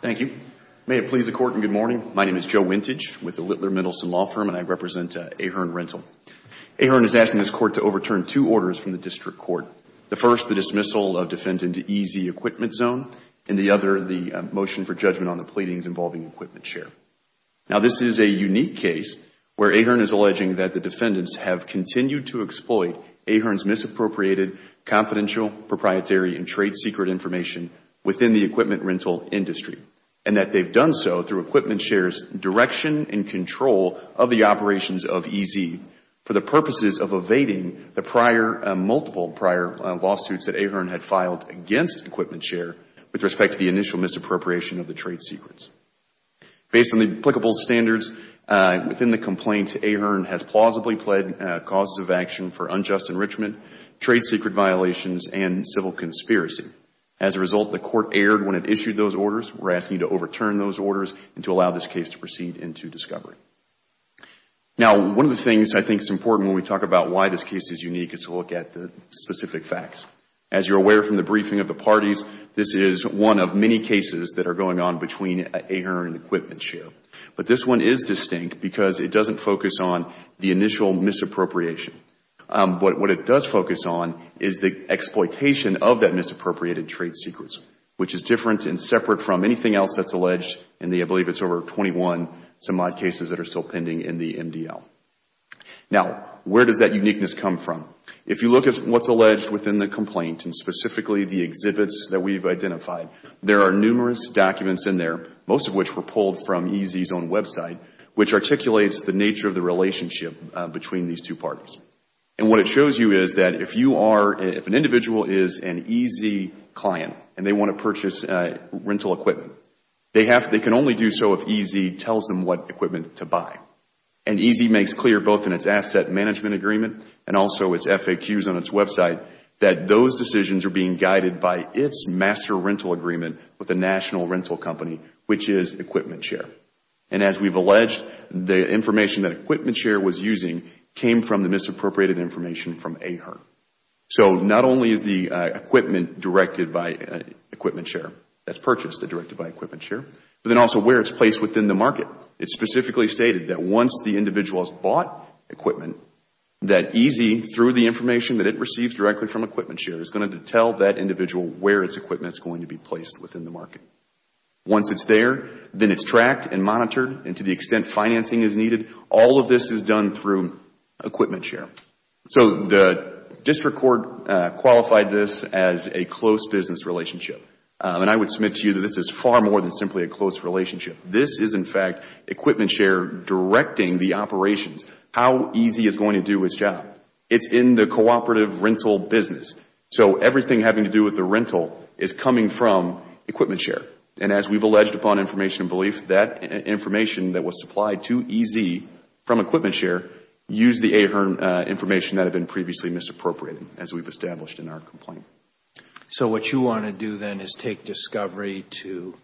Thank you. May it please the Court and good morning. My name is Joe Wintage with the Littler-Mendelson Law Firm, and I represent Ahern Rental. Ahern is asking this Court to overturn two orders from the District Court. The first, the dismissal of defendant EZ Equipment Zone, and the other, the motion for judgment on the pleadings involving EquipmentShare. Now this is a unique case where Ahern is alleging that the defendants have continued to exploit Ahern's misappropriated confidential, proprietary, and trade secret information within the equipment rental industry, and that they've done so through EquipmentShare's direction and control of the operations of EZ for the purposes of evading the multiple prior lawsuits that Ahern had filed against EquipmentShare with respect to the initial misappropriation of the trade secrets. Based on the applicable standards within the complaint, Ahern has plausibly pled causes of action for unjust enrichment, trade secret violations, and civil conspiracy. As a result, the Court erred when it issued those orders. We're asking you to overturn those orders and to allow this case to proceed into discovery. Now one of the things I think is important when we talk about why this case is unique is to look at the specific facts. As you're aware from the briefing of the parties, this is one of many cases that are going on between Ahern and EquipmentShare. But this one is distinct because it doesn't focus on the initial misappropriation. What it does focus on is the exploitation of that misappropriated trade secrets, which is different and separate from anything else that's alleged in the, I believe it's over 21, some odd cases that are still pending in the MDL. Now where does that uniqueness come from? If you look at what's alleged within the complaint, and specifically the exhibits that we've identified, there are numerous documents in there, most of which were pulled from EZ's own website, which articulates the nature of the relationship between these two parties. And what it shows you is that if you are, if an individual is an EZ client and they want to purchase rental equipment, they can only do so if EZ tells them what equipment to buy. And EZ makes clear, both in its asset management agreement and also its FAQs on its website, that those decisions are being guided by its master rental agreement with the national rental company, which is EquipmentShare. And as we've alleged, the information that EquipmentShare was using came from the misappropriated information from AHERT. So not only is the equipment directed by EquipmentShare, that's purchased and directed by EquipmentShare, but then also where it's placed within the market. It specifically stated that once the individual has bought equipment, that EZ, through the information that it receives directly from EquipmentShare, is going to tell that individual where its equipment is going to be placed within the market. Once it's there, then it's tracked and monitored and to the extent financing is needed, all of this is done through EquipmentShare. So the district court qualified this as a close business relationship. And I would submit to you that this is far more than simply a close relationship. This is, in fact, EquipmentShare directing the operations. How EZ is going to do its job. It's in the cooperative rental business. So everything having to do with the rental is coming from EquipmentShare. And as we've alleged upon information and belief, that information that was supplied to EZ from EquipmentShare used the AHERT information that had been previously misappropriated as we've established in our complaint. So what you want to do then is take discovery to,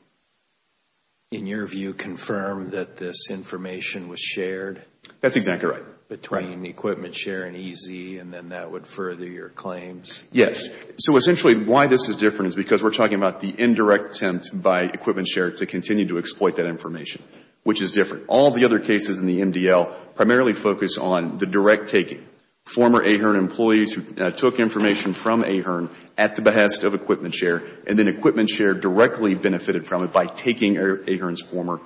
in your view, confirm that this information was shared? That's exactly right. between EquipmentShare and EZ and then that would further your claims? Yes. So essentially why this is different is because we're talking about the indirect attempt by EquipmentShare to continue to exploit that information, which is different. All the other cases in the MDL primarily focus on the direct taking. Former AHERT employees who took information from AHERT at the behest of EquipmentShare and then EquipmentShare directly benefited from it by taking AHERT's former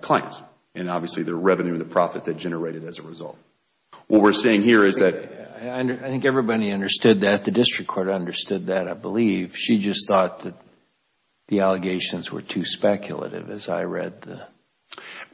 clients and obviously the revenue and the profit that generated as a result. What we're saying here is that... I think everybody understood that. The district court understood that, I believe. She just thought that the allegations were too speculative as I read the...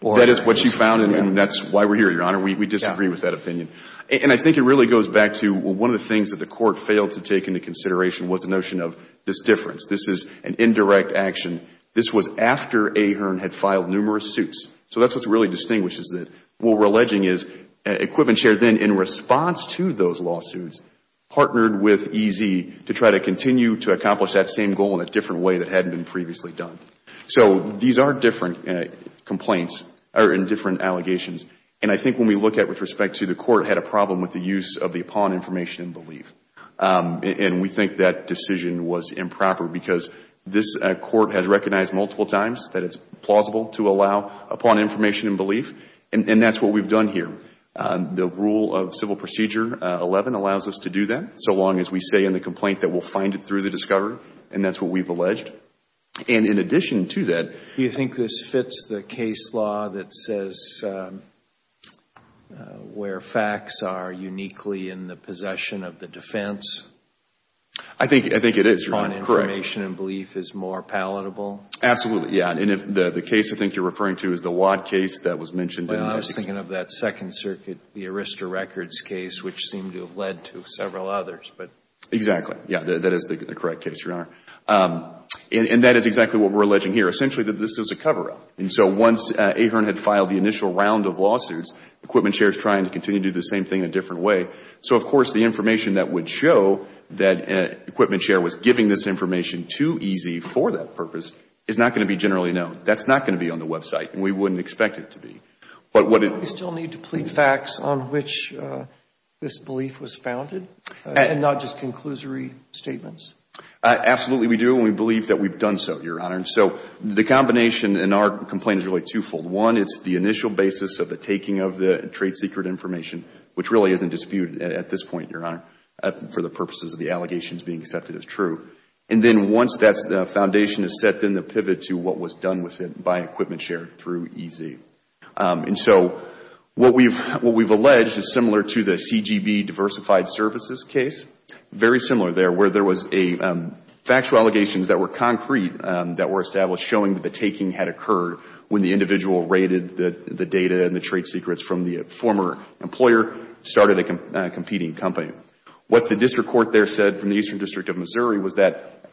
That is what you found and that's why we're here, Your Honor. We disagree with that opinion. And I think it really goes back to one of the things that the court failed to take into consideration was the notion of this difference. This is an indirect action. This was after AHERT had filed numerous suits. So that's what really distinguishes it. What we're alleging is EquipmentShare then, in response to those lawsuits, partnered with EZ to try to continue to accomplish that same goal in a different way that hadn't been previously done. So these are different complaints or different allegations. And I think when we look at it with respect to the court, it had a problem with the use of the upon information and belief. And we think that decision was improper because this court has recognized multiple times that it's plausible to allow upon information and belief. And that's what we've done here. The rule of Civil Procedure 11 allows us to do that so long as we say in the complaint that we'll find it through the discoverer. And that's what we've alleged. And in addition to that... Do you think this fits the case law that says where facts are uniquely in the possession of the defense... I think it is, Your Honor.... upon information and belief is more palatable? Absolutely. Yeah. And the case I think you're referring to is the Wadd case that was mentioned... Well, I was thinking of that Second Circuit, the Arista Records case, which seemed to have led to several others, but... Exactly. Yeah. That is the correct case, Your Honor. And that is exactly what we're alleging here, essentially that this is a cover-up. And so once Ahearn had filed the initial round of lawsuits, Equipment Share is trying to continue to do the same thing in a different way. So of course the information that would show that Equipment Share was giving this information too easy for that purpose is not going to be generally known. That's not going to be on the website, and we wouldn't expect it to be. But what it... Do we still need to plead facts on which this belief was founded and not just conclusory statements? Absolutely, we do, and we believe that we've done so, Your Honor. So the combination in our complaint is really two-fold. One, it's the initial basis of the taking of the trade secret information, which really isn't disputed at this point, Your Honor, for the purposes of the allegations being accepted as true. And then once that foundation is set, then the pivot to what was done with it by Equipment Share through EZ. And so what we've alleged is similar to the CGB diversified services case, very similar there, where there was factual allegations that were concrete that were established showing that the taking had occurred when the individual raided the data and the trade secrets from the former employer, started a competing company. What the district court there said from the Eastern District of Missouri was that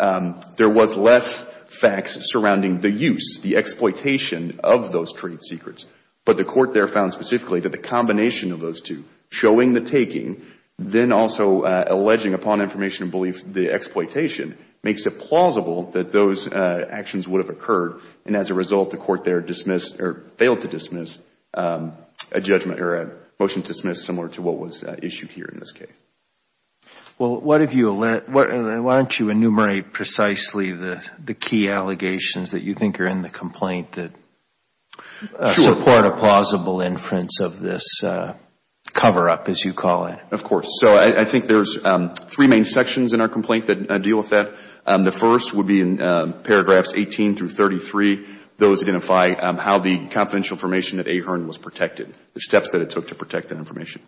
there was less facts surrounding the use, the exploitation of those trade secrets. But the court there found specifically that the combination of those two, showing the taking, then also alleging upon information and belief the exploitation, makes it plausible that those actions would have occurred, and as a result, the court there dismissed or in this case. Well, why don't you enumerate precisely the key allegations that you think are in the complaint that support a plausible inference of this cover-up, as you call it? Of course. So I think there's three main sections in our complaint that deal with that. The first would be in paragraphs 18 through 33. Those identify how the confidential information at Ahern was protected, the steps that it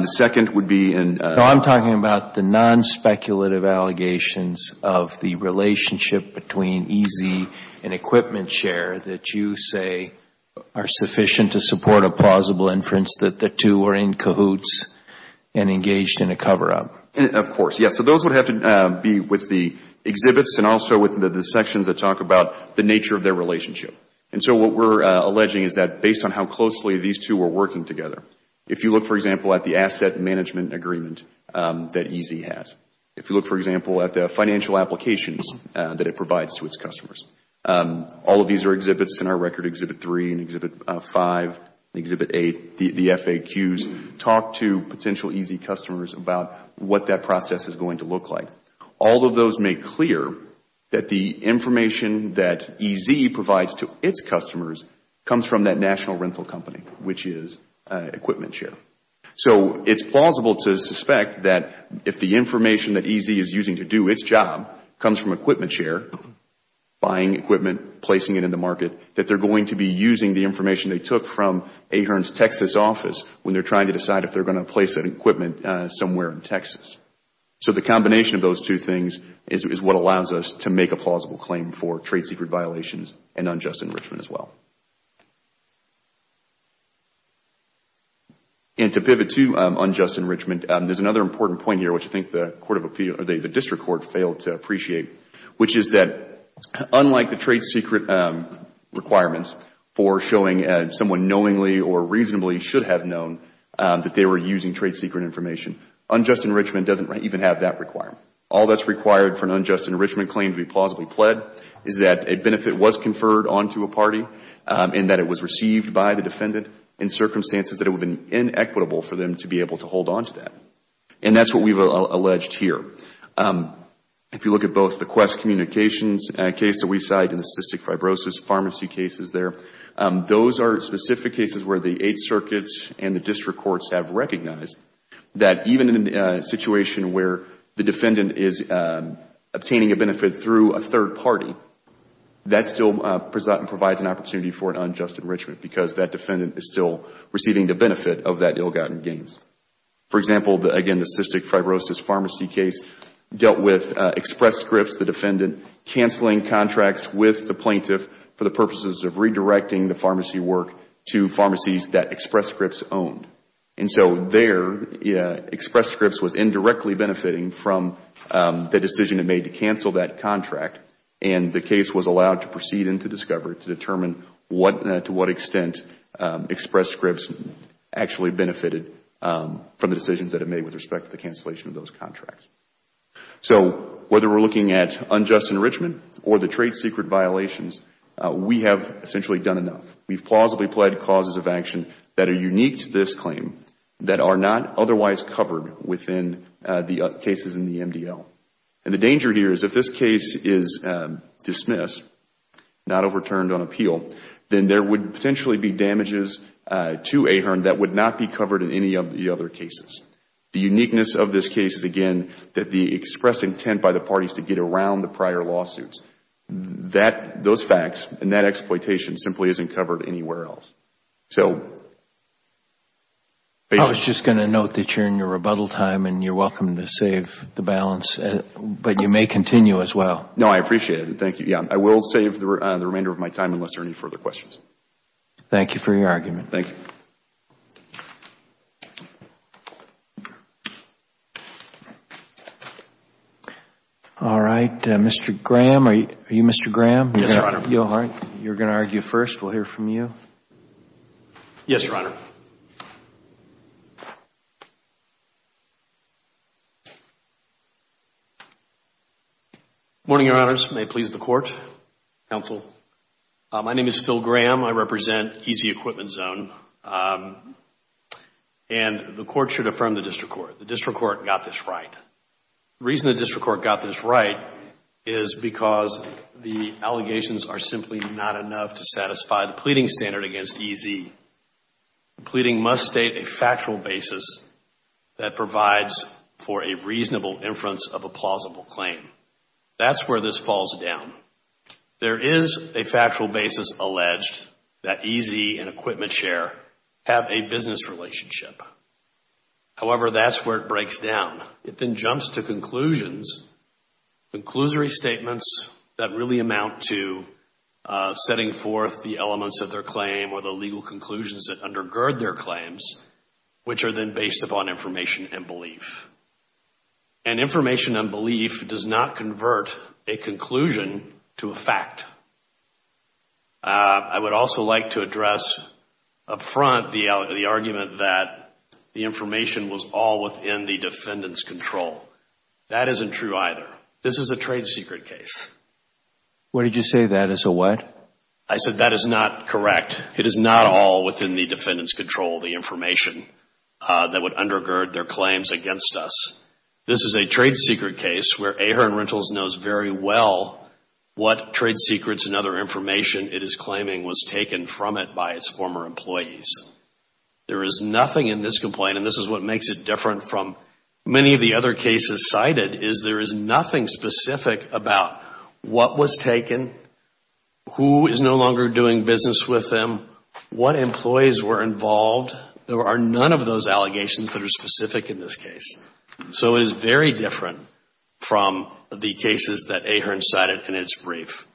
The second would be in I'm talking about the non-speculative allegations of the relationship between EZ and Equipment Share that you say are sufficient to support a plausible inference that the two were in cahoots and engaged in a cover-up. Of course, yes. So those would have to be with the exhibits and also with the sections that talk about the nature of their relationship. And so what we're alleging is that based on how closely these two were working together, if you look, for example, at the asset management agreement that EZ has, if you look, for example, at the financial applications that it provides to its customers, all of these are exhibits in our record, Exhibit 3 and Exhibit 5, Exhibit 8, the FAQs, talk to potential EZ customers about what that process is going to look like. All of those make clear that the information that EZ provides to its customers comes from that national rental company, which is Equipment Share. So it's plausible to suspect that if the information that EZ is using to do its job comes from Equipment Share, buying equipment, placing it in the market, that they're going to be using the information they took from Ahern's Texas office when they're trying to decide if they're going to place that equipment somewhere in Texas. So the combination of those two things is what allows us to make a plausible claim for And to pivot to unjust enrichment, there's another important point here, which I think the District Court failed to appreciate, which is that unlike the trade secret requirements for showing someone knowingly or reasonably should have known that they were using trade secret information, unjust enrichment doesn't even have that requirement. All that's required for an unjust enrichment claim to be plausibly pled is that a benefit was conferred onto a party and that it was received by the defendant in circumstances that it would have been inequitable for them to be able to hold onto that. And that's what we've alleged here. If you look at both the Quest Communications case that we cite and the Cystic Fibrosis Pharmacy cases there, those are specific cases where the Eighth Circuit and the District Courts have recognized that even in a situation where the defendant is obtaining a benefit through a third party, that still provides an opportunity for an unjust enrichment because that defendant is still receiving the benefit of that ill-gotten gain. For example, again, the Cystic Fibrosis Pharmacy case dealt with Express Scripts, the defendant canceling contracts with the plaintiff for the purposes of redirecting the pharmacy work to pharmacies that Express Scripts owned. And so there, Express Scripts was indirectly benefiting from the decision it made to cancel that contract and the case was allowed to proceed into discovery to determine to what extent Express Scripts actually benefited from the decisions that it made with respect to the cancellation of those contracts. So whether we're looking at unjust enrichment or the trade secret violations, we have essentially done enough. We've plausibly pled causes of action that are unique to this claim that are not otherwise covered within the cases in the MDL. And the danger here is if this case is dismissed, not overturned on appeal, then there would potentially be damages to AHERN that would not be covered in any of the other cases. The uniqueness of this case is, again, that the expressed intent by the parties to get around the prior lawsuits, those facts and that exploitation simply isn't covered anywhere else. I was just going to note that you're in your rebuttal time and you're welcome to save the balance, but you may continue as well. No, I appreciate it. Thank you. I will save the remainder of my time unless there are any further questions. Thank you for your argument. Thank you. All right. Mr. Graham, are you Mr. Graham? Yes, Your Honor. You're going to argue first. Thank you. Thank you. Thank you. Thank you. Thank you. Thank you. Thank you. Thank you. Thank you. Thank you. Good morning, Your Honors. May it please the Court, Counsel. My name is Phil Graham. I represent EZ Equipment Zone. And the Court should affirm the District Court. The District Court got this right. The reason the District Court got this right is because the allegations are simply not enough to satisfy the pleading standard against EZ. The pleading must state a factual basis that provides for a reasonable inference of a plausible claim. That's where this falls down. There is a factual basis alleged that EZ and Equipment Share have a business relationship. However, that's where it breaks down. It then jumps to conclusions, conclusory statements that really amount to setting forth the elements of their claim or the legal conclusions that undergird their claims, which are then based upon information and belief. And information and belief does not convert a conclusion to a fact. I would also like to address up front the argument that the information was all within the defendant's control. That isn't true either. This is a trade secret case. What did you say that is a what? I said that is not correct. It is not all within the defendant's control, the information that would undergird their claims against us. This is a trade secret case where Ahern Rentals knows very well what trade secrets and other information it is claiming was taken from it by its former employees. There is nothing in this complaint, and this is what makes it different from many of the other cases cited, is there is nothing specific about what was taken, who is no longer doing business with them, what employees were involved. There are none of those allegations that are specific in this case. So it is very different from the cases that Ahern cited in its brief.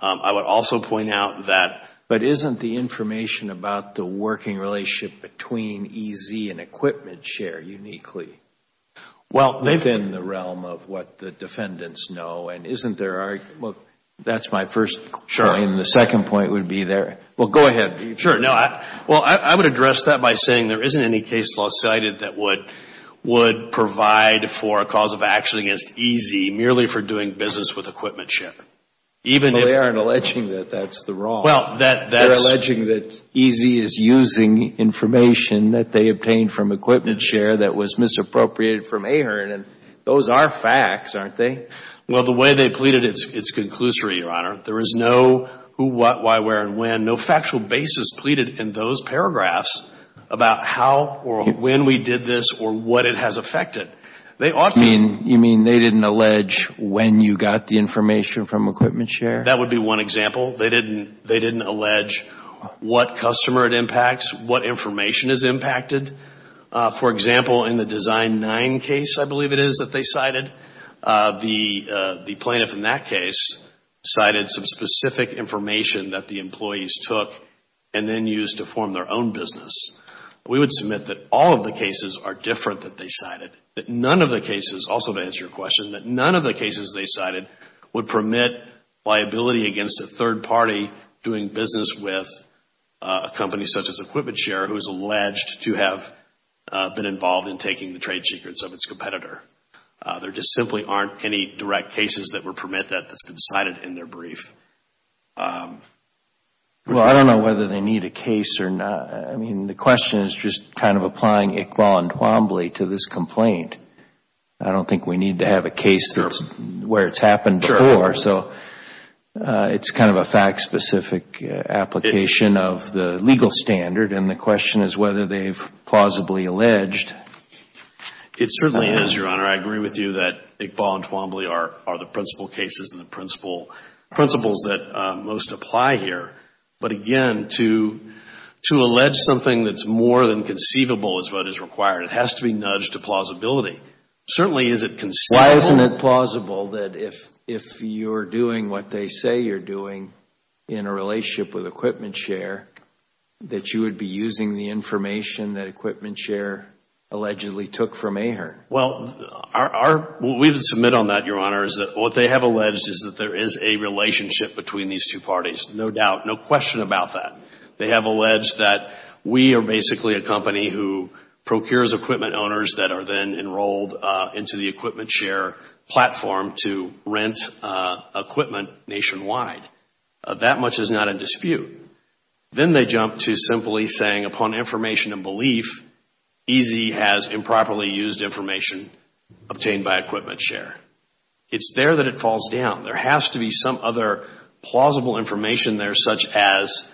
I would also point out that But isn't the information about the working relationship between EZ and equipment share uniquely? Well, they've been in the realm of what the defendants know, and isn't there Well, that's my first point. Sure. And the second point would be there. Well, go ahead. Sure. Well, I would address that by saying there isn't any case law cited that would provide for a cause of action against EZ merely for doing business with equipment share. But they aren't alleging that that's the wrong. Well, that's They're alleging that EZ is using information that they obtained from equipment share that was misappropriated from Ahern, and those are facts, aren't they? Well, the way they pleaded, it's conclusory, Your Honor. There is no who, what, why, where, and when, no factual basis pleaded in those paragraphs about how or when we did this or what it has affected. They ought to You mean they didn't allege when you got the information from equipment share? That would be one example. They didn't allege what customer it impacts, what information is impacted. For example, in the Design 9 case, I believe it is that they cited, the plaintiff in that case cited some specific information that the employees took and then used to form their own business. We would submit that all of the cases are different that they cited, that none of the cases, also to answer your question, that none of the cases they cited would permit liability against a third party doing business with a company such as equipment share who is alleged to have been involved in taking the trade secrets of its competitor. There just simply aren't any direct cases that would permit that that's been cited in their brief. Well, I don't know whether they need a case or not. The question is just kind of applying Iqbal and Twombly to this complaint. I don't think we need to have a case where it's happened before, so it's kind of a fact specific application of the legal standard and the question is whether they've plausibly alleged. It certainly is, Your Honor. I agree with you that Iqbal and Twombly are the principle cases and the principles that most apply here. But again, to allege something that's more than conceivable is what is required. It has to be nudged to plausibility. Certainly, is it conceivable? Why isn't it plausible that if you're doing what they say you're doing in a relationship with equipment share, that you would be using the information that equipment share allegedly took from Ahern? Well, we have to submit on that, Your Honor, is that what they have alleged is that there is a relationship between these two parties. No doubt, no question about that. They have alleged that we are basically a company who procures equipment owners that are then enrolled into the equipment share platform to rent equipment nationwide. That much is not in dispute. Then they jump to simply saying upon information and belief, EZ has improperly used information obtained by equipment share. It's there that it falls down. There has to be some other plausible information there such as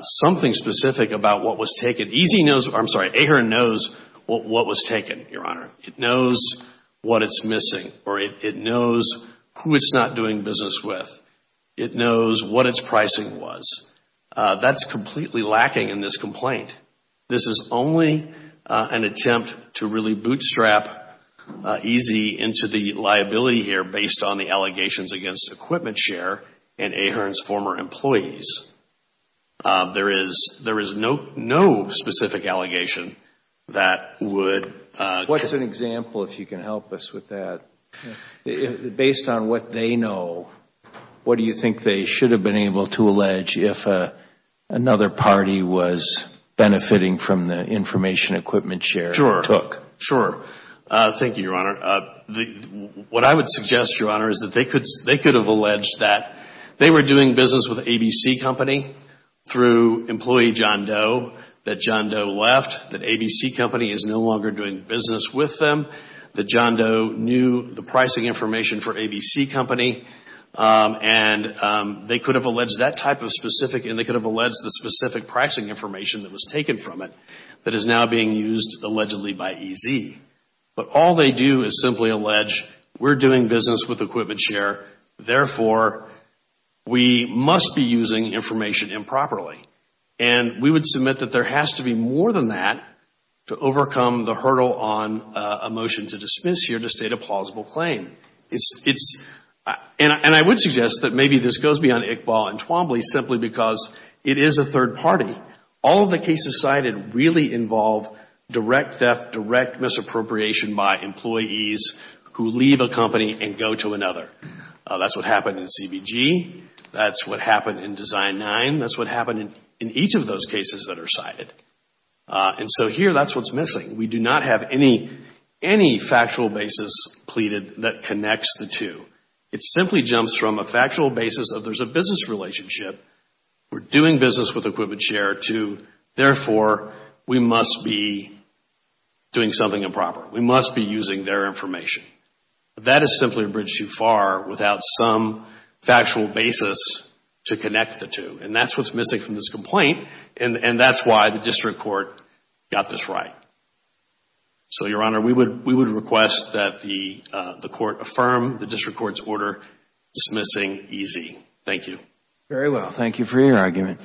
something specific about what was taken. EZ knows, I'm sorry, Ahern knows what was taken, Your Honor. It knows what it's missing or it knows who it's not doing business with. It knows what its pricing was. That's completely lacking in this complaint. This is only an attempt to really bootstrap EZ into the liability here based on the allegations against equipment share and Ahern's former employees. There is no specific allegation that would What's an example, if you can help us with that? Based on what they know, what do you think they should have been able to allege if another party was benefiting from the information equipment share took? Sure. Thank you, Your Honor. What I would suggest, Your Honor, is that they could have alleged that they were doing business with ABC Company through employee John Doe, that John Doe left, that ABC Company is no longer doing business with them, that John Doe knew the pricing information for ABC Company and they could have alleged that type of specific and they could have alleged the specific pricing information that was taken from it that is now being used allegedly by EZ. But all they do is simply allege we're doing business with equipment share. Therefore, we must be using information improperly. And we would submit that there has to be more than that to overcome the hurdle on a motion to dismiss here to state a plausible claim. And I would suggest that maybe this goes beyond Iqbal and Twombly simply because it is a third party. All of the cases cited really involve direct theft, direct misappropriation by employees who leave a company and go to another. That's what happened in CBG. That's what happened in Design 9. That's what happened in each of those cases that are cited. And so here, that's what's missing. We do not have any factual basis pleaded that connects the two. It simply jumps from a factual basis of there's a business relationship, we're doing business with equipment share to, therefore, we must be doing something improper. We must be using their information. That is simply a bridge too far without some factual basis to connect the two. And that's what's missing from this complaint. And that's why the district court got this right. So, Your Honor, we would request that the court affirm the district court's order dismissing EZ. Thank you. Very well. Thank you for your argument.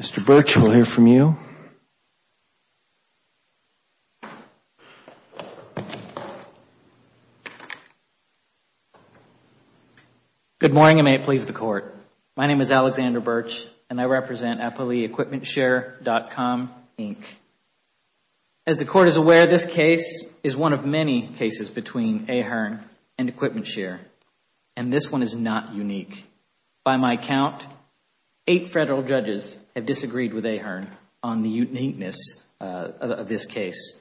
Mr. Birch, we'll hear from you. Good morning, and may it please the Court. My name is Alexander Birch, and I represent AppaleeEquipmentShare.com, Inc. As the Court is aware, this case is one of many cases between Ahearn and EquipmentShare. And this one is not unique. By my count, eight Federal judges have disagreed with Ahearn on the uniqueness of this case.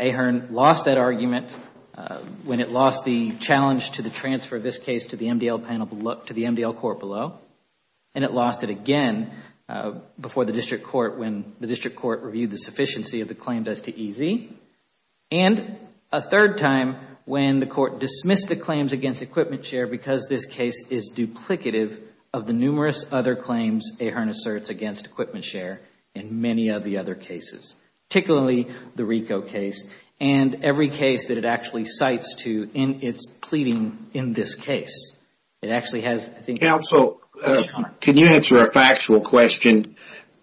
Ahearn lost that argument when it lost the challenge to the transfer of this case to the MDL court below. And it lost it again before the district court when the district court reviewed the sufficiency of the claims as to EZ. And a third time when the court dismissed the claims against EquipmentShare because this case is duplicative of the numerous other claims Ahearn asserts against EquipmentShare in many of the other cases. Particularly the RICO case and every case that it actually cites to in its pleading in this case. Counsel, can you answer a factual question?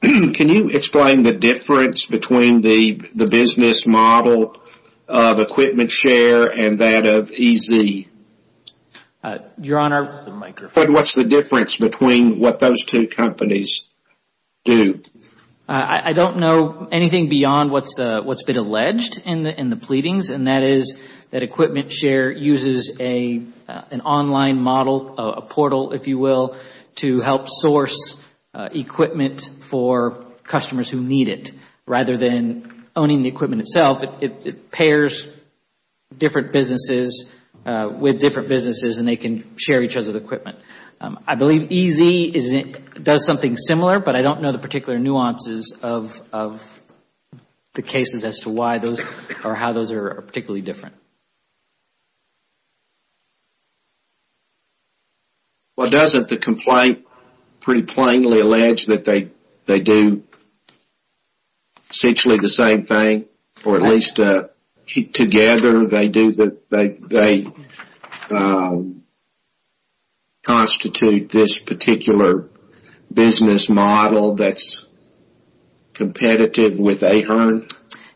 Can you explain the difference between the business model of EquipmentShare and that of EZ? Your Honor. What's the difference between what those two companies do? I don't know anything beyond what's been alleged in the pleadings. And that is that EquipmentShare uses an online model, a portal if you will, to help source equipment for customers who need it. Rather than owning the equipment itself, it pairs different businesses with different businesses and they can share each other's equipment. I believe EZ does something similar, but I don't know the particular nuances of the cases as to why those or how those are particularly different. Well, doesn't the complaint pretty plainly allege that they do essentially the same thing? Or at least together they constitute this particular business model that's competitive with Ahearn?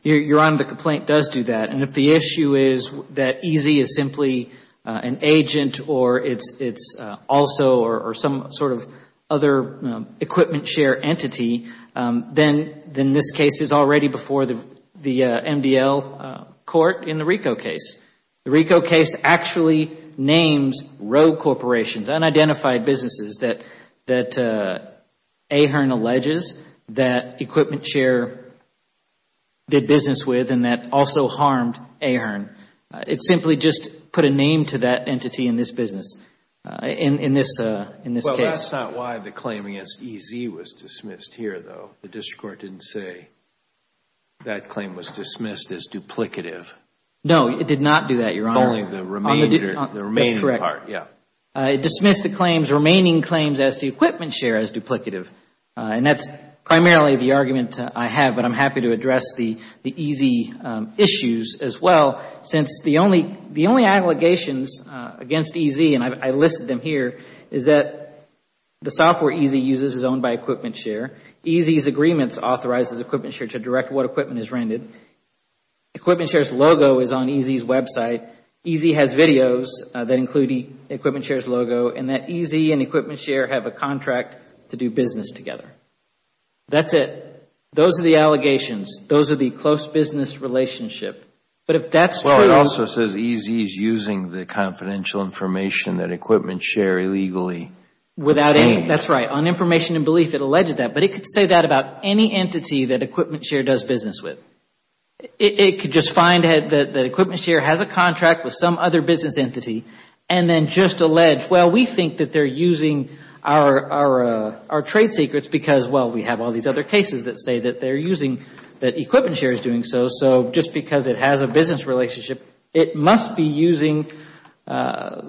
Your Honor, the complaint does do that. If the issue is that EZ is simply an agent or it's also or some sort of other EquipmentShare entity, then this case is already before the MDL court in the RICO case. The RICO case actually names rogue corporations, unidentified businesses that Ahearn alleges that EquipmentShare did business with and that also harmed Ahearn. It simply just put a name to that entity in this business, in this case. Well, that's not why the claim against EZ was dismissed here, though. The district court didn't say that claim was dismissed as duplicative. No, it did not do that, Your Honor. Only the remaining part. That's correct. It dismissed the claims, remaining claims as to EquipmentShare as duplicative. That's primarily the argument I have, but I'm happy to address the EZ issues as well since the only allegations against EZ, and I listed them here, is that the software EZ uses is owned by EquipmentShare. EZ's agreements authorizes EquipmentShare to direct what equipment is rented. EquipmentShare's logo is on EZ's website. EZ has videos that include EquipmentShare's logo and that EZ and EquipmentShare have a contract to do business together. That's it. Those are the allegations. Those are the close business relationship. It also says EZ is using the confidential information that EquipmentShare illegally. That's right. On information and belief, it alleges that, but it could say that about any entity that EquipmentShare does business with. It could just find that EquipmentShare has a contract with some other business entity and then just allege, well, we think that they are using our trade secrets because, well, we have all these other cases that say that EquipmentShare is doing so. Just because it has a business relationship, it must be using our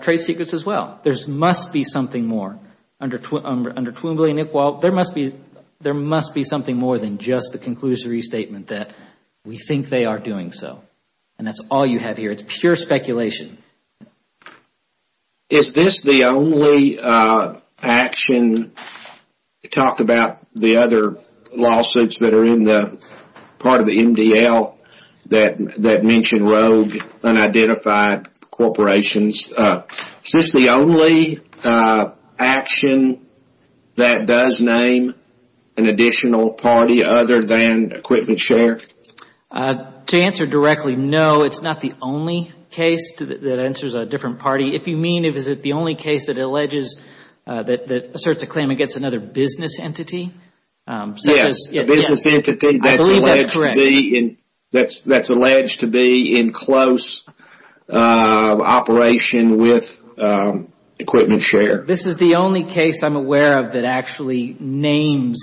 trade secrets as well. There must be something more. Under Twombly and Iqbal, there must be something more than just the conclusory statement that we think they are doing so. That's all you have here. It's pure speculation. Is this the only action? It talked about the other lawsuits that are in the part of the MDL that mention rogue, unidentified corporations. Is this the only action that does name an additional party other than EquipmentShare? To answer directly, no. It's not the only case that answers a different party. If you mean, is it the only case that asserts a claim against another business entity? Yes. I believe that's correct. That's alleged to be in close operation with EquipmentShare. This is the only case I'm aware of that actually names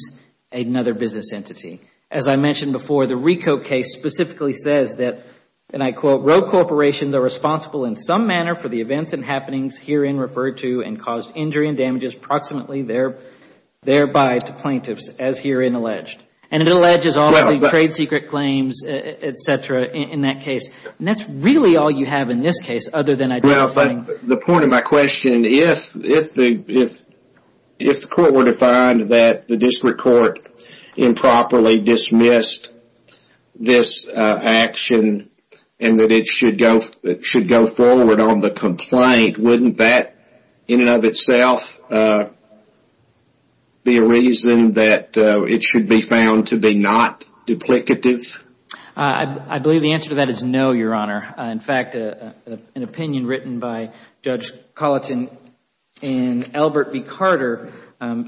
another business entity. As I mentioned before, the RICO case specifically says that, and I quote, rogue corporations are responsible in some manner for the events and happenings herein referred to and caused injury and damages approximately thereby to plaintiffs as herein alleged. It alleges all the trade secret claims, et cetera, in that case. That's really all you have in this case other than identifying. The point of my question, if the court were to find that the district court improperly dismissed this action and that it should go forward on the complaint, wouldn't that in and of itself be a reason that it should be found to be not duplicative? I believe the answer to that is no, Your Honor. In fact, an opinion written by Judge Colleton and Albert B. Carter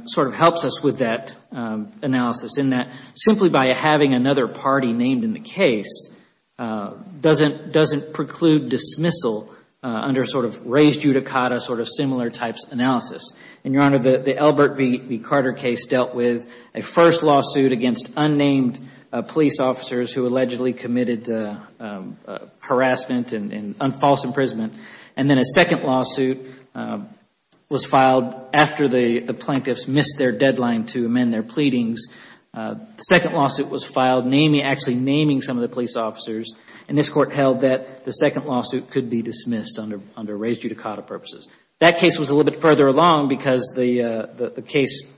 sort of helps us with that analysis in that simply by having another party named in the case doesn't preclude dismissal under sort of raised judicata, sort of similar types analysis. And, Your Honor, the Albert B. Carter case dealt with a first lawsuit against unnamed police officers who allegedly committed harassment and false imprisonment. And then a second lawsuit was filed after the plaintiffs missed their deadline to amend their pleadings. The second lawsuit was filed actually naming some of the police officers. And this Court held that the second lawsuit could be dismissed under raised judicata purposes. That case was a little bit further along because the case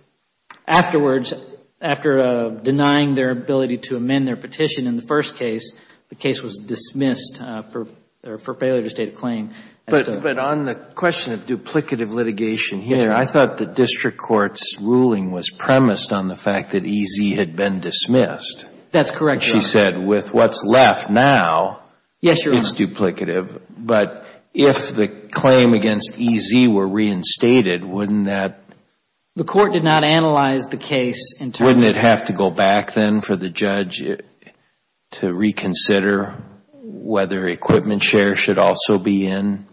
afterwards, after denying their ability to amend their petition in the first case, the case was dismissed for failure to state a claim. But on the question of duplicative litigation here, I thought the district court's ruling was premised on the fact that E.Z. had been dismissed. That's correct, Your Honor. She said with what's left now, it's duplicative. But if the claim against E.Z. were reinstated, wouldn't that? The court did not analyze the case in terms of. Wouldn't it have to go back then for the judge to reconsider whether equipment share should also be in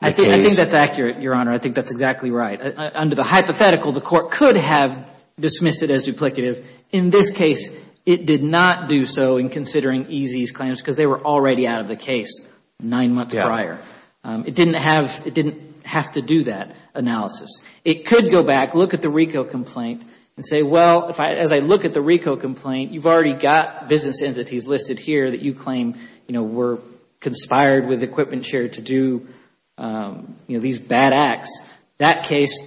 the case? I think that's accurate, Your Honor. I think that's exactly right. Under the hypothetical, the court could have dismissed it as duplicative. In this case, it did not do so in considering E.Z.'s claims because they were already out of the case nine months prior. It didn't have to do that analysis. It could go back, look at the RICO complaint and say, well, as I look at the RICO complaint, you've already got business entities listed here that you claim were conspired with equipment share to do these bad acts. That case,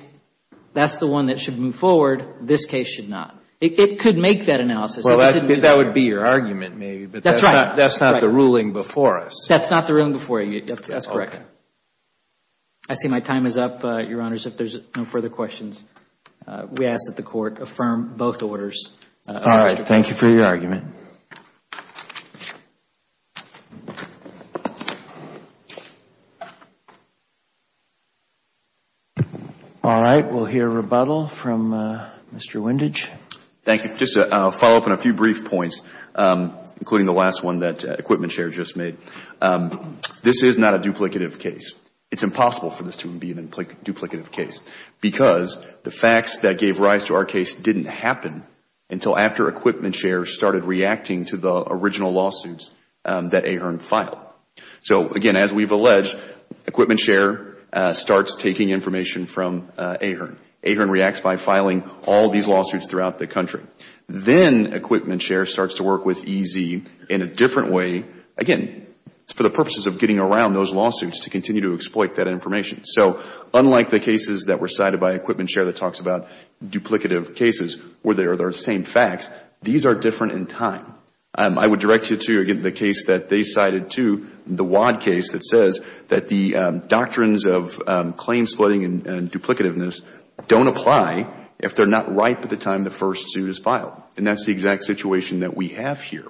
that's the one that should move forward. This case should not. It could make that analysis. Well, that would be your argument, maybe. That's right. But that's not the ruling before us. That's not the ruling before you. That's correct. Okay. I see my time is up, Your Honors. If there's no further questions, we ask that the Court affirm both orders. All right. Thank you for your argument. All right. We'll hear rebuttal from Mr. Windage. Thank you. Just to follow up on a few brief points, including the last one that Equipment Share just made, this is not a duplicative case. It's impossible for this to be a duplicative case because the facts that gave rise to our case didn't happen until after Equipment Share started reacting to the original lawsuits that AHERN filed. So, again, as we've alleged, Equipment Share starts taking information from AHERN. AHERN reacts by filing all these lawsuits throughout the country. Then Equipment Share starts to work with EZ in a different way. Again, it's for the purposes of getting around those lawsuits to continue to exploit that information. So unlike the cases that were cited by Equipment Share that talks about duplicative cases where they are the same facts, these are different in time. I would direct you to, again, the case that they cited too, the WAD case that says that the doctrines of claim splitting and duplicativeness don't apply if they're not ripe at the time the first suit is filed. And that's the exact situation that we have here.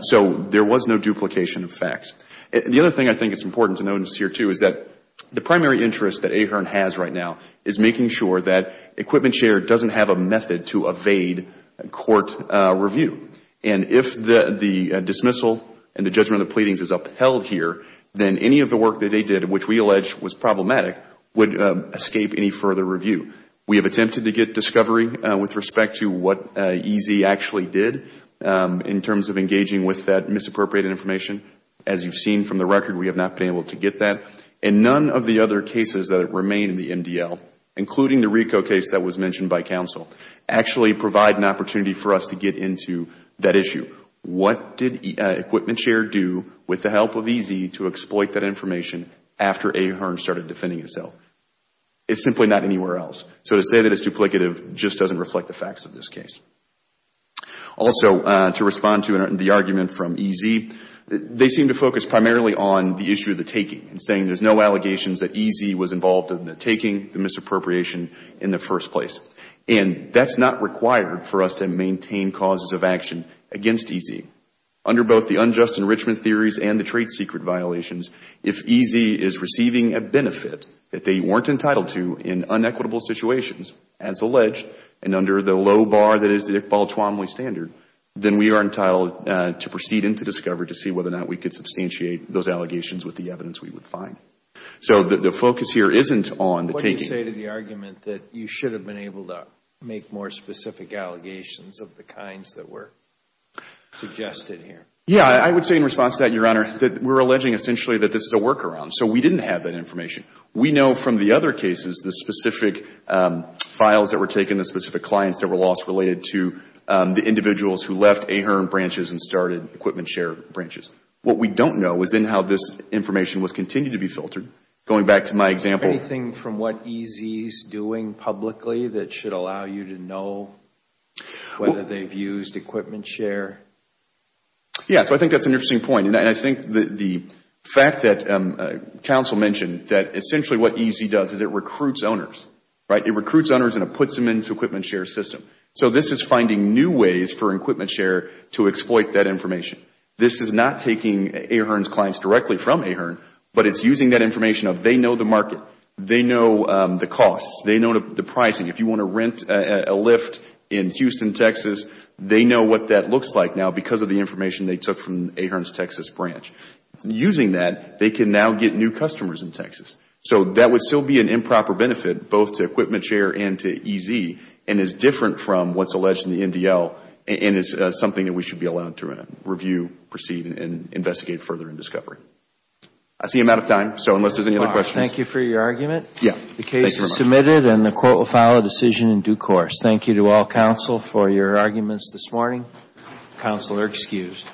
So there was no duplication of facts. The other thing I think is important to notice here too is that the primary interest that AHERN has right now is making sure that Equipment Share doesn't have a method to evade court review. And if the dismissal and the judgment of the pleadings is upheld here, then any of the work that they did, which we allege was problematic, would escape any further review. We have attempted to get discovery with respect to what EZ actually did in terms of engaging with that misappropriated information. As you've seen from the record, we have not been able to get that. And none of the other cases that remain in the MDL, including the RICO case that was mentioned by counsel, actually provide an opportunity for us to get into that issue. What did Equipment Share do with the help of EZ to exploit that information after AHERN started defending itself? It's simply not anywhere else. So to say that it's duplicative just doesn't reflect the facts of this case. Also, to respond to the argument from EZ, they seem to focus primarily on the issue of the taking and saying there's no allegations that EZ was involved in the taking, the misappropriation in the first place. And that's not required for us to maintain causes of action against EZ. Under both the unjust enrichment theories and the trade secret violations, if EZ is receiving a benefit that they weren't entitled to in unequitable situations, as alleged, and under the low bar that is the Iqbal-Tuamwe standard, then we are entitled to proceed into discovery to see whether or not we could substantiate those allegations with the evidence we would find. So the focus here isn't on the taking. What do you say to the argument that you should have been able to make more specific allegations of the kinds that were suggested here? Yeah, I would say in response to that, Your Honor, that we're alleging essentially that this is a workaround. So we didn't have that information. We know from the other cases the specific files that were taken, the specific clients that were lost related to the individuals who left AHRQ branches and started equipment share branches. What we don't know is then how this information was continued to be filtered. Going back to my example. Is there anything from what EZ is doing publicly that should allow you to know whether they've used equipment share? Yeah, so I think that's an interesting point. And I think the fact that counsel mentioned that essentially what EZ does is it recruits owners, right? It recruits owners and it puts them into equipment share system. So this is finding new ways for equipment share to exploit that information. This is not taking AHRQ's clients directly from AHRQ, but it's using that information of they know the market. They know the costs. They know the pricing. If you want to rent a Lyft in Houston, Texas, they know what that looks like now because of the information they took from AHRQ's Texas branch. Using that, they can now get new customers in Texas. So that would still be an improper benefit both to equipment share and to EZ and is different from what's alleged in the NDL and is something that we should be allowed to review, proceed, and investigate further in discovery. I see I'm out of time, so unless there's any other questions. Thank you for your argument. Yeah. The case is submitted and the court will file a decision in due course. Thank you to all counsel for your arguments this morning. Counsel are excused.